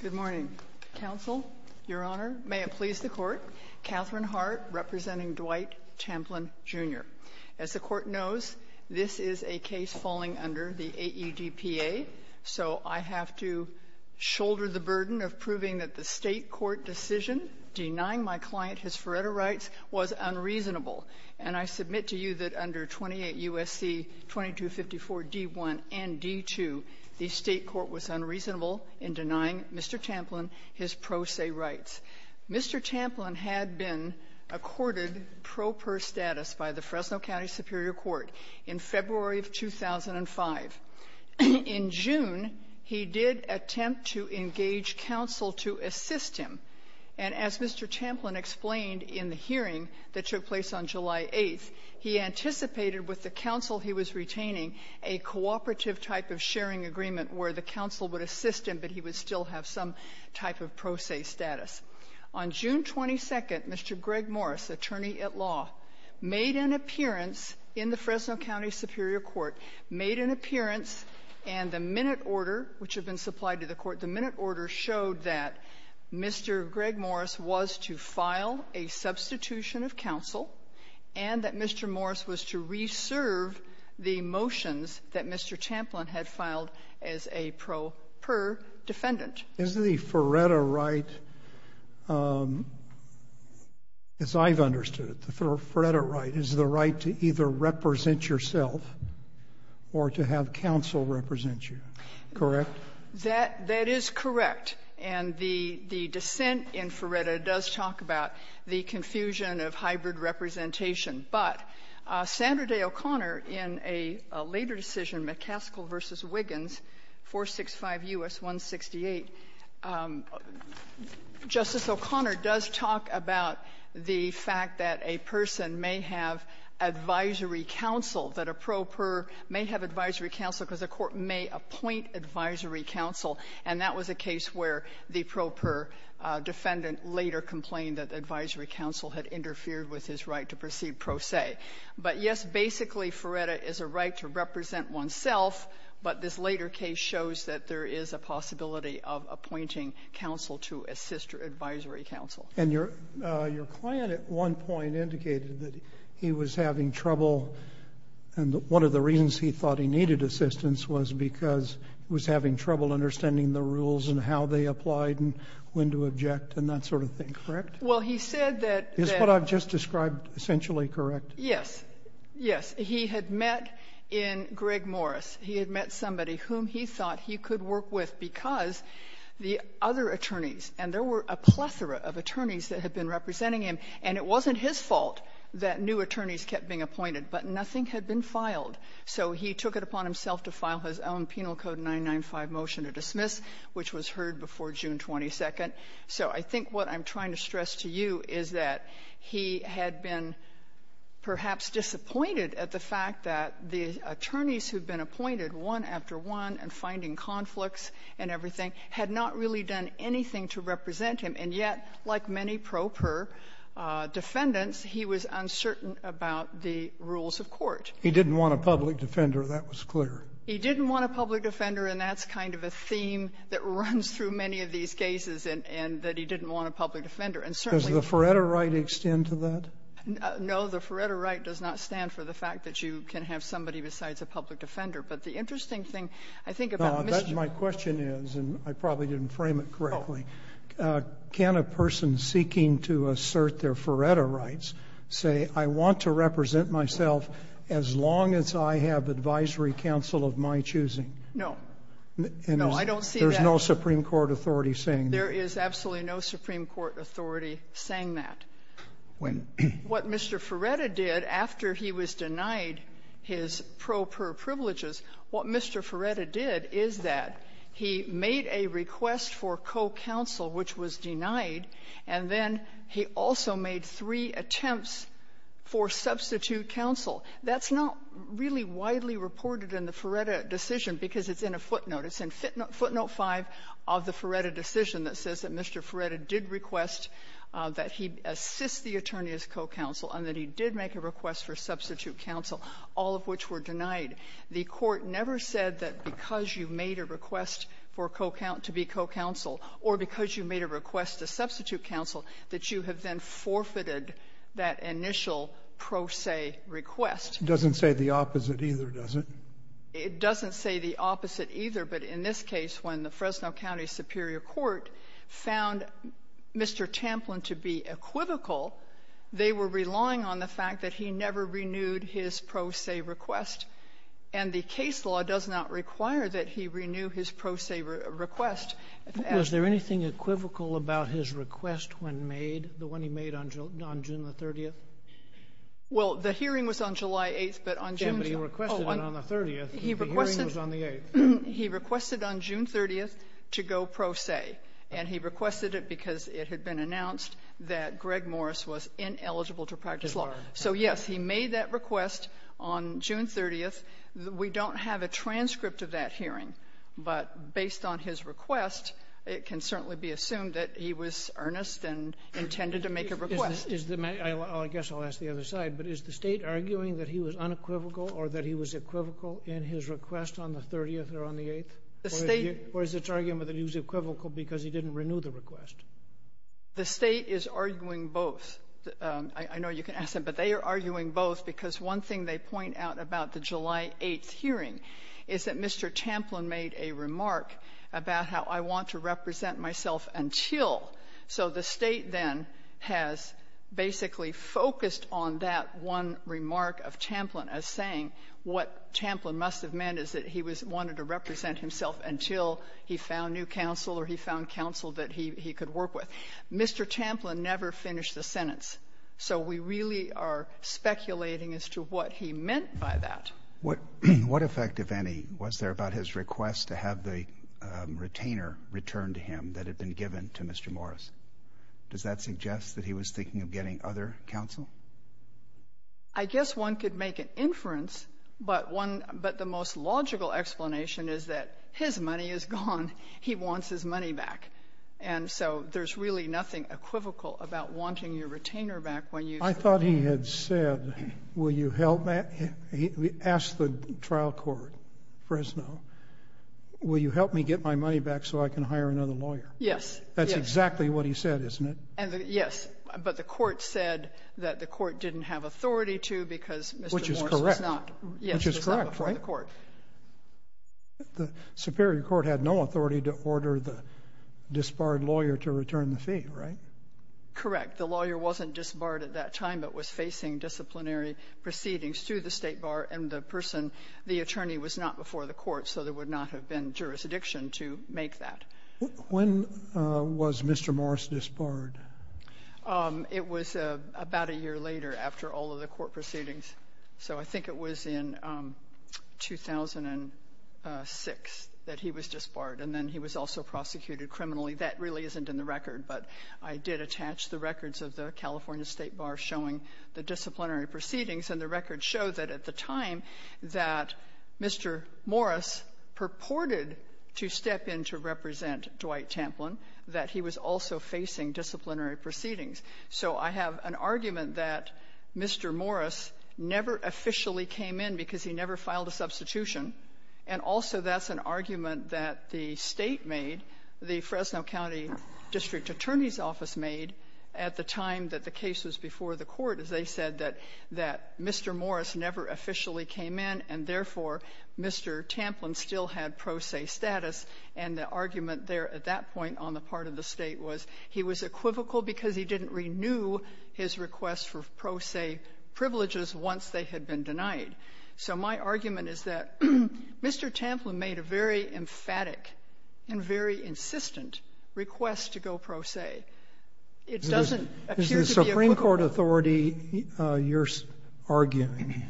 Good morning, Counsel, Your Honor. May it please the Court, Katherine Hart representing Dwight Tamplin, Jr. As the Court knows, this is a case falling under the AEDPA, so I have to shoulder the burden of proving that the State Court decision denying my client his Faretto rights was unreasonable. And I submit to you that under 28 U.S.C. 2254 D.1 and D.2, the State Court was unreasonable in denying Mr. Tamplin his pro se rights. Mr. Tamplin had been accorded pro per status by the Fresno County Superior Court in February of 2005. In June, he did attempt to engage counsel to assist him. And as Mr. Tamplin explained in the hearing that took place on July 8th, he anticipated with the counsel he was retaining a cooperative type of sharing agreement where the counsel would assist him, but he would still have some type of pro se status. On June 22nd, Mr. Gregg Morris, attorney at law, made an appearance in the Fresno County Superior Court, made an appearance, and the minute order, which had been supplied to the Court, the minute order showed that Mr. Gregg Morris was to file a substitution of counsel and that Mr. Morris was to reserve the motions that Mr. Tamplin had filed as a pro per defendant. JUSTICE SCALIA. Is the Faretto right, as I've understood it, the Faretto right, is the right to either represent yourself or to have counsel represent you, correct? MS. MCGOWAN. That is correct. And the dissent in Faretto does talk about the confusion of hybrid representation. But Sandra Day O'Connor, in a later decision, McCaskill v. Wiggins, 465 U.S. 168, Justice O'Connor does talk about the fact that a person may have advisory counsel, that a pro per may have advisory counsel because a court may appoint advisory counsel, and that was a case where the pro per defendant later complained that advisory counsel had interfered with his right to proceed pro se. But, yes, basically Faretto is a right to represent oneself, but this later case shows that there is a possibility of appointing counsel to assist advisory counsel. JUSTICE SCALIA. And your client at one point indicated that he was having trouble and one of the reasons he thought he needed assistance was because he was having trouble understanding the rules and how they applied and when to object and that sort of thing, correct? MS. MCGOWAN. Well, he said that the — JUSTICE SCALIA. Is what I've just described essentially correct? MS. MCGOWAN. Yes. Yes. He had met in Greg Morris. He had met somebody whom he thought he could work with because the other attorneys, and there were a plethora of attorneys that had been representing him, and it wasn't his fault that new attorneys kept being appointed, but nothing had been filed. So he took it upon himself to file his own Penal Code 995 motion to dismiss, which was heard before June 22nd. So I think what I'm trying to stress to you is that he had been perhaps disappointed at the fact that the attorneys who had been appointed one after one and finding conflicts and everything had not really done anything to represent him, and yet, like many pro per defendants, he was uncertain about the rules of court. JUSTICE SCALIA. He didn't want a public defender. That was clear. MS. MCGOWAN. He didn't want a public defender, and that's kind of a theme that runs through many of these cases, and that he didn't want a public defender. And certainly — JUSTICE SCALIA. Does the Feretta right extend to that? MS. MCGOWAN. No. The Feretta right does not stand for the fact that you can have somebody besides a public defender. But the interesting thing, I think, about Mr. — JUSTICE SCALIA. My question is, and I probably didn't frame it correctly, can a person seeking to assert their Feretta rights say, I want to represent myself as long as I have advisory counsel of my choosing? MS. MCGOWAN. No. No, I don't see that. JUSTICE SCALIA. There's no Supreme Court authority saying that? MS. MCGOWAN. There is absolutely no Supreme Court authority saying that. What Mr. Feretta did after he was denied his pro per privileges, what Mr. Feretta did is that he made a request for co-counsel, which was denied, and then he also made three attempts for substitute counsel. That's not really widely reported in the Feretta decision, because it's in a footnote. It's in footnote 5 of the Feretta decision that says that Mr. Feretta did request that he assist the attorney as co-counsel and that he did make a request for substitute counsel, all of which were denied. The Court never said that because you made a request for co-counsel, to be co-counsel, or because you made a request to substitute counsel, that you have then forfeited that JUSTICE SCALIA. It doesn't say the opposite either, does it? MS. MCGOWAN. It doesn't say the opposite either, but in this case, when the Fresno County Superior Court found Mr. Tamplin to be equivocal, they were relying on the fact that he never renewed his pro se request, and the case law does not require that he renew his pro se request. JUSTICE SCALIA. Was there anything equivocal about his request when made, the one he made on June the 30th? MS. MCGOWAN. Well, the hearing was on July 8th, but on June the 8th. JUSTICE SCALIA. Yes, but he requested it on the 30th. The hearing was on the 8th. MS. MCGOWAN. He requested on June 30th to go pro se, and he requested it because it was unequivocal. So, yes, he made that request on June 30th. We don't have a transcript of that hearing, but based on his request, it can certainly be assumed that he was earnest and intended to make a request. JUSTICE SCALIA. I guess I'll ask the other side, but is the State arguing that he was unequivocal or that he was equivocal in his request on the 30th or on the 8th? MS. MCGOWAN. The State — JUSTICE SCALIA. Or is it arguing that he was equivocal because he didn't renew the request? MS. MCGOWAN. The State is arguing both. I know you can ask them, but they are arguing both because one thing they point out about the July 8th hearing is that Mr. Champlin made a remark about how I want to represent myself until. So the State then has basically focused on that one remark of Champlin as saying what Champlin must have meant is that he wanted to represent himself until he found new counsel or he found counsel that he could work with. Mr. Champlin never finished the sentence, so we really are speculating as to what he meant by that. JUSTICE SCALIA. What effect, if any, was there about his request to have the retainer return to him that had been given to Mr. Morris? Does that suggest that he was thinking of getting other counsel? MS. MCGOWAN. I guess one could make an inference, but the most logical explanation is that his money is gone. He wants his money back. And so there is really nothing equivocal about wanting your retainer back when you... JUSTICE SCALIA. I thought he had said, will you help me? He asked the trial court, Fresno, will you help me get my money back so I can hire another lawyer? MS. MCGOWAN. Yes. JUSTICE SCALIA. That is exactly what he said, isn't it? MS. MCGOWAN. Yes. But the court said that the court didn't have authority to because Mr. Morris was not before the court. JUSTICE SCALIA. The Superior Court had no authority to order the disbarred lawyer to return the fee, right? MS. MCGOWAN. Correct. The lawyer wasn't disbarred at that time but was facing disciplinary proceedings to the State Bar, and the person, the attorney, was not before the court, so there would not have been jurisdiction to make that. JUSTICE SCALIA. When was Mr. Morris disbarred? MS. MCGOWAN. It was about a year later after all of the court proceedings. So I think it was in 2006 that he was disbarred, and then he was also prosecuted criminally. That really isn't in the record, but I did attach the records of the California State Bar showing the disciplinary proceedings, and the records show that at the time that Mr. Morris purported to step in to represent Dwight Tamplin, that he was also facing disciplinary proceedings. So I have an argument that Mr. Morris never officially came in because he never filed a substitution, and also that's an argument that the State made, the Fresno County District Attorney's Office made, at the time that the case was before the court, is they said that Mr. Morris never officially came in, and therefore, Mr. Tamplin still had pro se status, and the argument there at that point on the part of the State was that Mr. Morris did not renew his request for pro se privileges once they had been denied. So my argument is that Mr. Tamplin made a very emphatic and very insistent request to go pro se. It doesn't appear to be a quibble. JUSTICE SCALIA. Is the Supreme Court authority you're arguing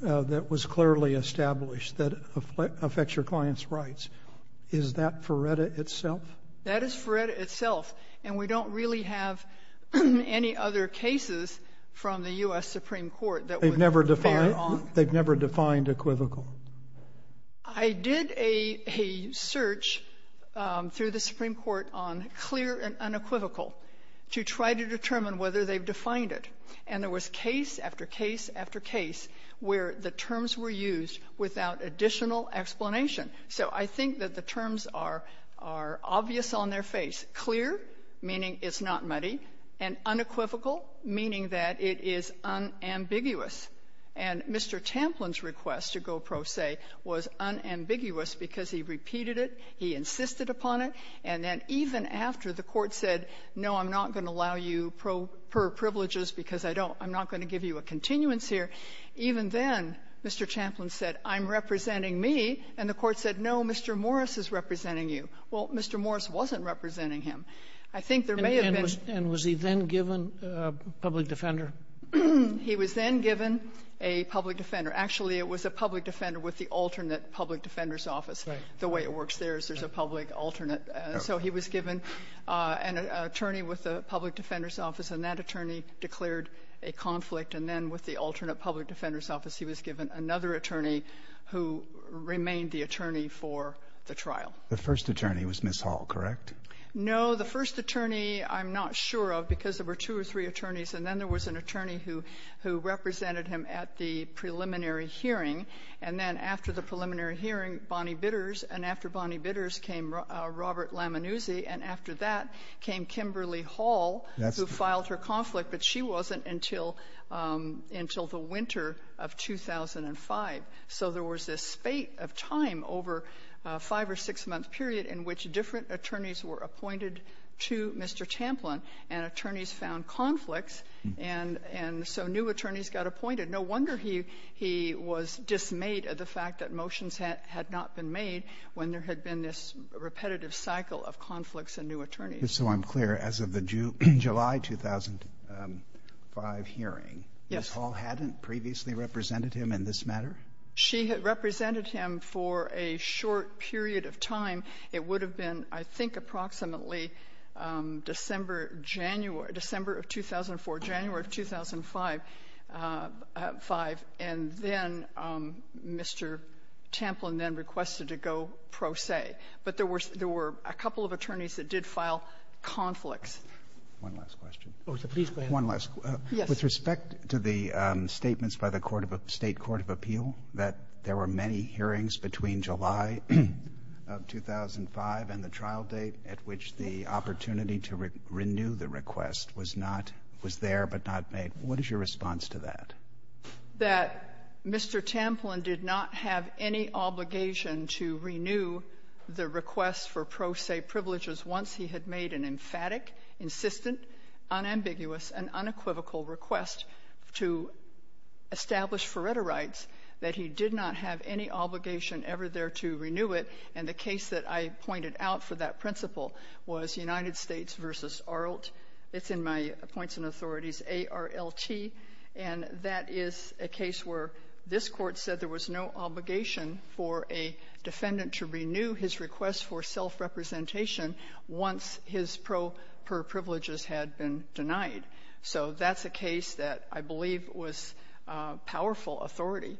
that was clearly established that affects your client's rights, is that Feretta itself? And we don't really have any other cases from the U.S. Supreme Court that would bear on... JUSTICE BREYER. They've never defined equivocal? JUSTICE SCALIA. I did a search through the Supreme Court on clear and unequivocal to try to determine whether they've defined it, and there was case after case after case where the terms were used without additional explanation. So I think that the terms are obvious on their face. Clear, meaning it's not muddy, and unequivocal, meaning that it is unambiguous. And Mr. Tamplin's request to go pro se was unambiguous because he repeated it, he insisted upon it, and then even after the Court said, no, I'm not going to allow you per privileges because I'm not going to give you a continuance here, even then, Mr. Tamplin said, I'm representing me, and the Court said, no, Mr. Morris is representing you. Well, Mr. Morris wasn't representing him. I think there may have been... JUSTICE SCALIA. And was he then given a public defender? JUSTICE BREYER. He was then given a public defender. Actually, it was a public defender with the alternate public defender's office. The way it works there is there's a public alternate. So he was given an attorney with the public defender's office, and that attorney declared a conflict. And then with the alternate public defender's office, he was given another attorney who remained the attorney for the trial. JUSTICE SCALIA. The first attorney was Ms. Hall, correct? JUSTICE BREYER. No, the first attorney I'm not sure of because there were two or three attorneys, and then there was an attorney who represented him at the preliminary hearing. And then after the preliminary hearing, Bonnie Bitters, and after Bonnie Bitters came Robert Lamannuzzi, and after that came Kimberly Hall, who filed her conflict, but she wasn't until the winter of 2005. So there was this spate of time over a five- or six-month period in which different attorneys were appointed to Mr. Champlin, and attorneys found conflicts, and so new attorneys got appointed. No wonder he was dismayed at the fact that motions had not been made when there had been this repetitive cycle of conflicts and new attorneys. JUSTICE SCALIA. So I'm clear. As of the July 2005 hearing, Ms. Hall hadn't previously represented him in this matter? JUSTICE BREYER. She had represented him for a short period of time. It would have been, I think, approximately December of 2004, January of 2005, and then Mr. Champlin then requested to go pro se. But there were a couple of attorneys that did file conflicts. JUSTICE SCALIA. One last question. JUSTICE BREYER. Oh, sir, please go ahead. JUSTICE SCALIA. One last question. JUSTICE BREYER. Yes. JUSTICE SCALIA. With respect to the statements by the State Court of Appeal that there were many hearings between July of 2005 and the trial date at which the opportunity to renew the request was there but not made, what is your response to that? JUSTICE BREYER. That Mr. Champlin did not have any obligation to renew the request for pro se privileges once he had made an emphatic, insistent, unambiguous, and unequivocal request to establish foretter rights, that he did not have any obligation ever there to renew it. And the case that I pointed out for that principle was United States v. Arlt. It's in my points and authorities, A-R-L-T. And that is a case where this Court said there was no obligation for a defendant to renew his request for self-representation once his pro per privileges had been denied. So that's a case that I believe was powerful authority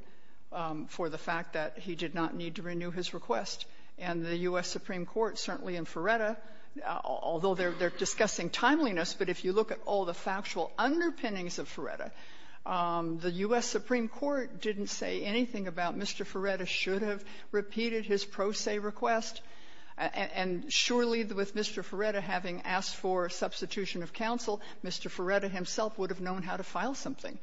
for the fact that he did not need to renew his request. And the U.S. Supreme Court certainly in Ferretta, although they're discussing timeliness, but if you look at all the factual underpinnings of Ferretta, the U.S. Supreme Court didn't say anything about Mr. Ferretta should have repeated his pro se request. And surely with Mr. Ferretta having asked for substitution of counsel, Mr. Ferretta himself would have known how to file something.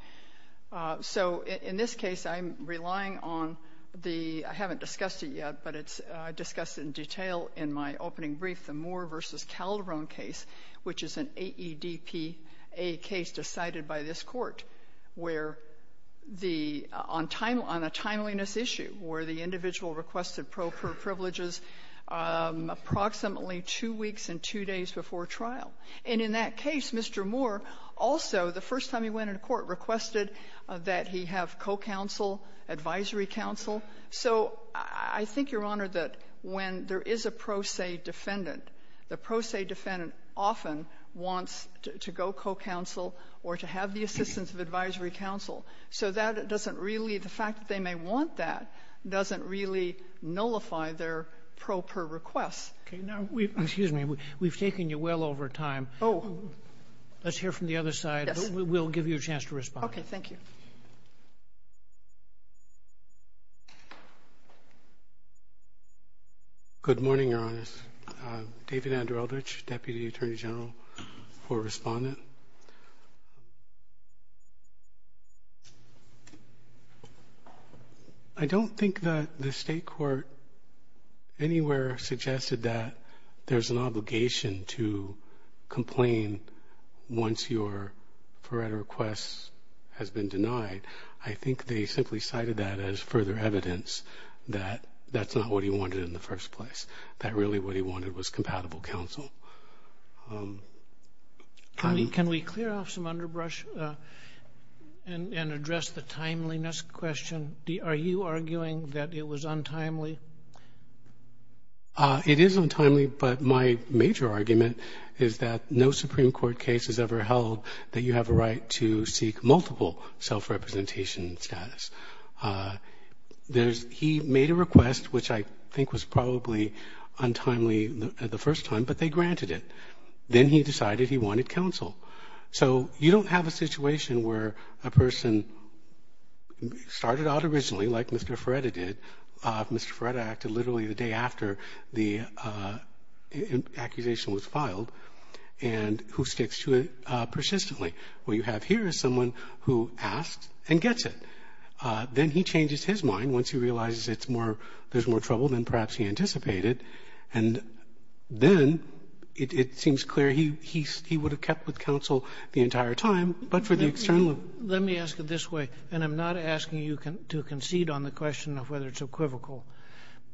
So in this case, I'm relying on the, I haven't discussed it yet, but it's discussed in detail in my opening brief, the Moore v. Calderon case, which is an AEDPA case decided by this Court where the, on time, on a timeliness issue, where the individual requested pro per privileges approximately two weeks and two days before trial. And in that case, Mr. Moore also, the first time he went into court, requested that he have co-counsel, advisory counsel. So I think, Your Honor, that when there is a pro se defendant, the pro se defendant often wants to go co-counsel or to have the assistance of advisory counsel. So that doesn't really, the fact that they may want that doesn't really nullify their pro per request. Okay. Now we, excuse me, we've taken you well over time. Oh. Let's hear from the other side. Yes. We'll give you a chance to respond. Okay. Thank you. Good morning, Your Honors. David Andrew Eldridge, Deputy Attorney General for Respondent. I don't think that the state court anywhere suggested that there's an obligation to complain once your pro request has been denied. I think they simply cited that as further evidence that that's not what he wanted in the first place. That really what he wanted was compatible counsel. Can we clear off some underbrush and address the timeliness question? Are you arguing that it was untimely? It is untimely, but my major argument is that no Supreme Court case has ever held that you have a right to seek multiple self-representation status. He made a request, which I think was probably untimely the first time, but they granted it. Then he decided he wanted counsel. So you don't have a situation where a person started out originally like Mr. Ferretta did, Mr. Ferretta acted literally the day after the accusation was filed, and who sticks to it persistently. What you have here is someone who asks and gets it. Then he changes his mind once he realizes it's more, there's more trouble than perhaps he anticipated. And then it seems clear he would have kept with counsel the entire time, but for the external. Let me ask it this way, and I'm not asking you to concede on the question of whether it's equivocal.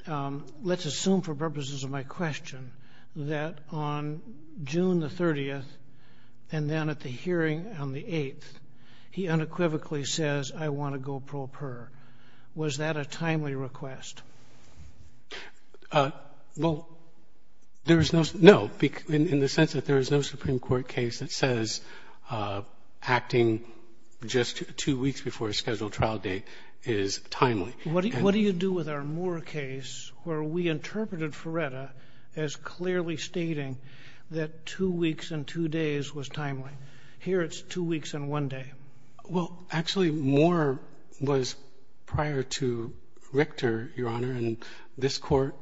Let's assume for purposes of my question that on June the 30th and then at the hearing on the 8th, he unequivocally says, I want to go pro per. Was that a timely request? Well, there's no, no, in the sense that there is no Supreme Court case that says acting just two weeks before a scheduled trial date is timely. What do you do with our Moore case where we interpreted Ferretta as clearly stating that two weeks and two days was timely? Here it's two weeks and one day. Well, actually, Moore was prior to Richter, Your Honor, and this court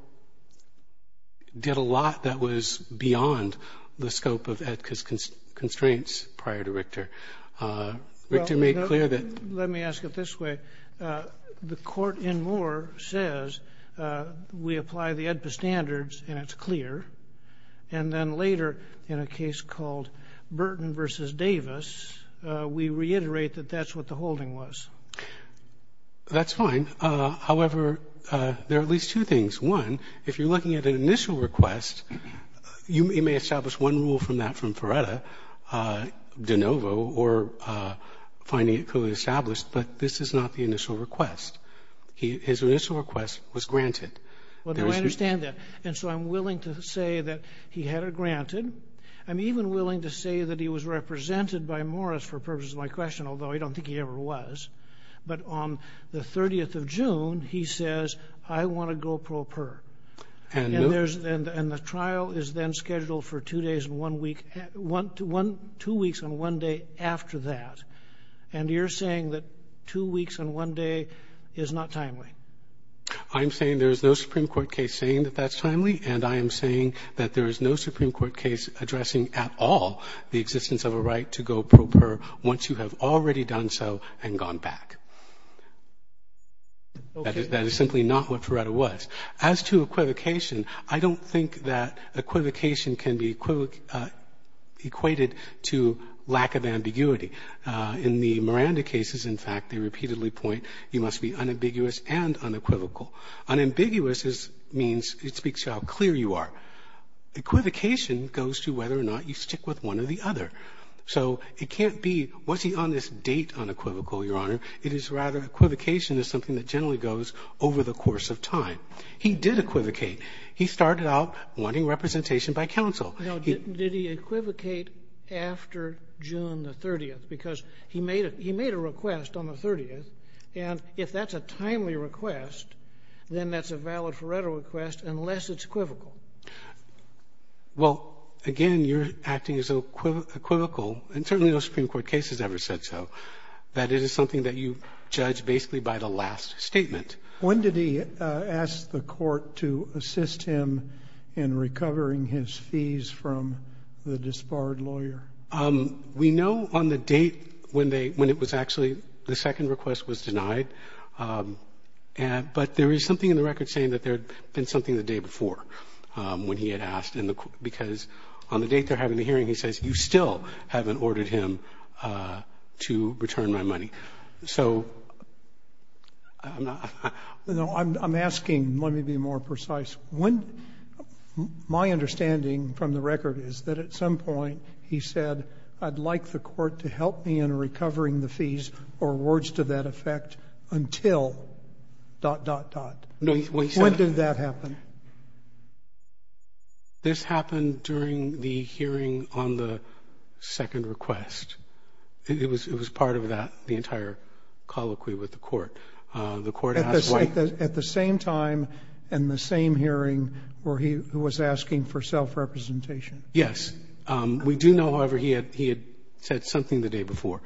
did a lot that was beyond the scope of EDPA's constraints prior to Richter. Richter made clear that Let me ask it this way. The court in Moore says we apply the EDPA standards and it's that that's what the holding was. That's fine. However, there are at least two things. One, if you're looking at an initial request, you may establish one rule from that from Ferretta, de novo, or finding it co-established, but this is not the initial request. His initial request was granted. Well, I understand that. And so I'm willing to say that he had it granted. I'm even willing to say that he was represented by Morris for purposes of my question, although I don't think he ever was. But on the 30th of June, he says, I want to go pro per. And the trial is then scheduled for two days and one week, two weeks and one day after that. And you're saying that two weeks and one day is not timely. I'm saying there's no Supreme Court case saying that that's timely. And I am saying that there is no Supreme Court case addressing at all the existence of a right to go pro per once you have already done so and gone back. That is simply not what Ferretta was. As to equivocation, I don't think that equivocation can be equated to lack of ambiguity. In the Miranda cases, in fact, they repeatedly point you must be unambiguous and unequivocal. Unambiguous means it speaks to how clear you are. Equivocation goes to whether or not you stick with one or the other. So it can't be, was he on this date unequivocal, Your Honor? It is rather equivocation is something that generally goes over the course of time. He did equivocate. He started out wanting representation by counsel. No. Did he equivocate after June the 30th? Because he made a request on the 30th. And if that's a timely request, then that's a valid Ferretta request unless it's equivocal. Well, again, you're acting as equivocal, and certainly no Supreme Court case has ever said so, that it is something that you judge basically by the last statement. When did he ask the court to assist him in recovering his fees from the disbarred lawyer? We know on the date when they, when it was actually, the second request was denied. But there is something in the record saying that there had been something the day before when he had asked, because on the date they're having the hearing, he says, you still haven't ordered him to return my money. So I'm not. No, I'm asking, let me be more precise. When, my understanding from the record is that at some point, he said, I'd like the court to help me in recovering the fees or words to that effect until dot, dot, dot. When did that happen? This happened during the hearing on the second request. It was part of that, the entire colloquy with the court. The court asked why. At the same time and the same hearing where he was asking for self-representation. Yes, we do know, however, he had, he had said something the day before.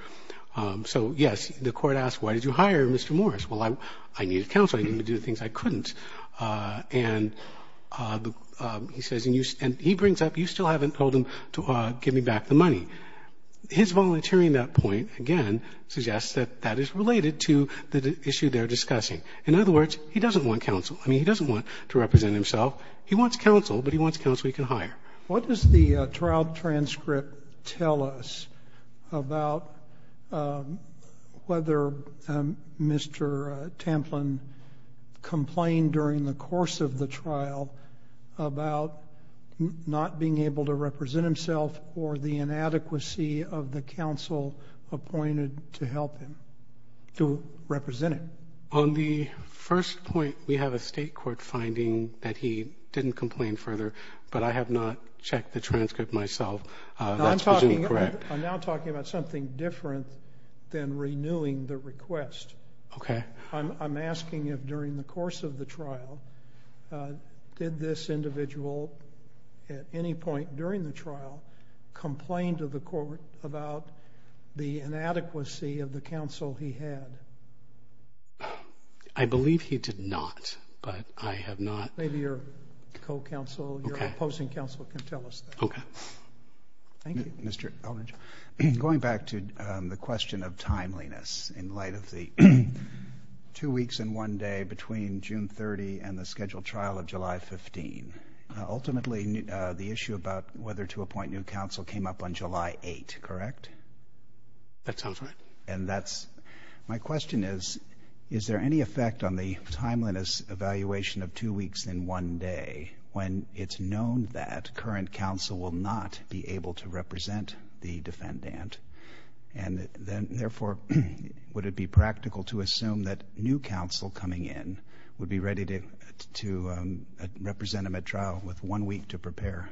So yes, the court asked, why did you hire Mr. Morris? Well, I, I needed counseling to do the things I couldn't. And he says, and he brings up, you still haven't told him to give me back the money. His volunteering that point, again, suggests that that is related to the issue they're discussing. In other words, he doesn't want counsel. I mean, he doesn't want to represent himself. He wants counsel, but he wants counsel he can hire. What does the trial transcript tell us about whether Mr. Tamplin complained during the course of the trial about not being able to represent himself or the inadequacy of the counsel appointed to help him to represent it? On the first point, we have a state court finding that he didn't complain further, but I have not checked the transcript myself. I'm now talking about something different than renewing the request. I'm asking if during the course of the trial, did this individual at any point during the trial complained to the court about the inadequacy of the counsel he had? I believe he did not, but I have not. Maybe your co-counsel, your opposing counsel can tell us that. Thank you. Mr. Elbridge, going back to the question of timeliness in light of the two weeks and one day between June 30 and the scheduled trial of July 15, ultimately the issue about whether to appoint new counsel came up on July 8, correct? That sounds right. That's my question is, is there any effect on the timeliness evaluation of two weeks and one day when it's known that current counsel will not be able to represent the defendant? Therefore, would it be practical to assume that new counsel coming in would be ready to represent him at trial with one week to prepare?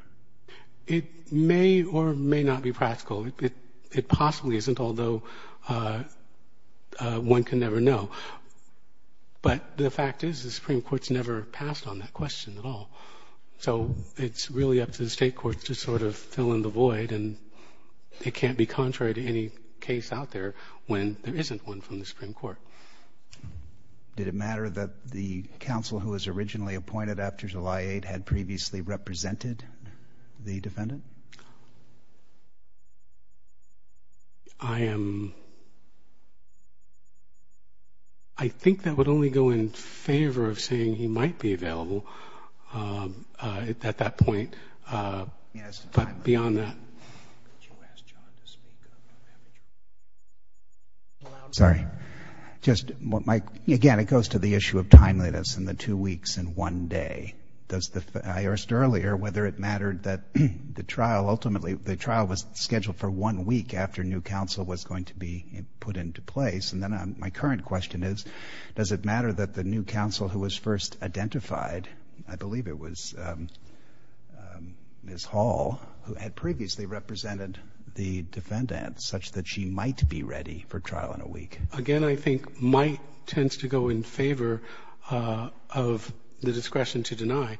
It may or may not be practical. It possibly isn't, although one can never know. But the fact is the Supreme Court's never passed on that question at all. So it's really up to the state courts to sort of fill in the void, and it can't be contrary to any case out there when there isn't one from the Supreme Court. Did it matter that the counsel who was originally appointed after July 8 had previously represented the defendant? I am, I think that would only go in favor of saying he might be available at that point. Yes. But beyond that. Sorry, just, again, it goes to the issue of timeliness in the two weeks and one day. Does the, I asked earlier whether it mattered that the trial ultimately, the trial was scheduled for one week after new counsel was going to be put into place? And then my current question is, does it matter that the new counsel who was first identified, I believe it was Ms. Hall, who had previously represented the defendant, such that she might be ready for trial in a week? Again, I think might tends to go in favor of the discretion to deny.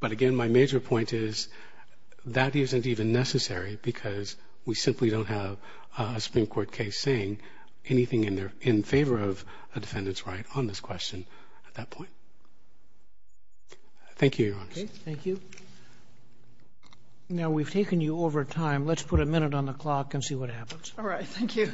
But again, my major point is, that isn't even necessary because we simply don't have a Supreme Court case saying anything in their, in favor of a defendant's right on this question at that point. Thank you, Your Honor. Okay. Thank you. Now, we've taken you over time. Let's put a minute on the clock and see what happens. All right. Thank you.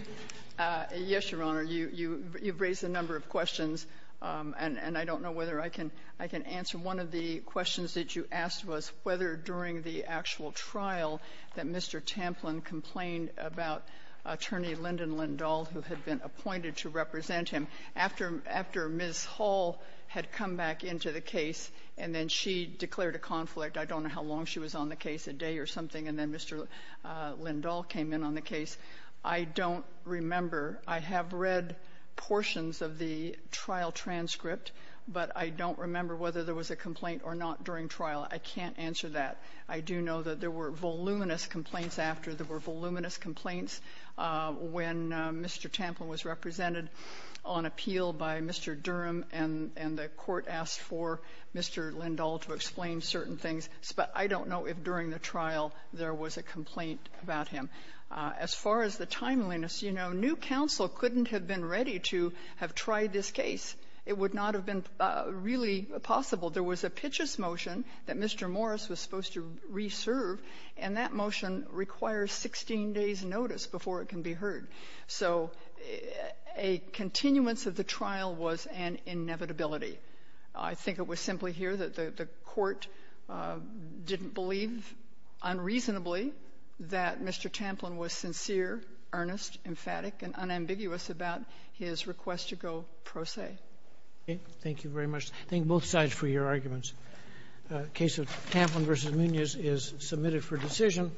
Yes, Your Honor, you've raised a number of questions, and I don't know whether I can answer. One of the questions that you asked was whether during the actual trial that Mr. Tamplin complained about Attorney Lyndon Lindahl, who had been appointed to represent him, after Ms. Hall had come back into the case and then she declared a conflict. I don't know how long she was on the case, a day or something, and then Mr. Lindahl came in on the case. I don't remember. I have read portions of the trial transcript, but I don't remember whether there was a complaint or not during trial. I can't answer that. I do know that there were voluminous complaints after. There were voluminous complaints when Mr. Tamplin was represented on appeal by Mr. Durham, and the court asked for Mr. Lindahl to explain certain things. But I don't know if during the trial there was a complaint about him. As far as the timeliness, you know, new counsel couldn't have been ready to have tried this case. It would not have been really possible. There was a pitches motion that Mr. Morris was supposed to re-serve, and that motion requires 16 days' notice before it can be heard. So a continuance of the trial was an inevitability. I think it was simply here that the court didn't believe unreasonably that Mr. Tamplin was sincere, earnest, emphatic, and unambiguous about his request to go pro se. Thank you very much. Thank both sides for your arguments. Case of Tamplin v. Munoz is submitted for decision.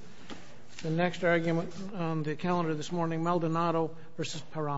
The next argument on the calendar this morning, Maldonado v. Paramo.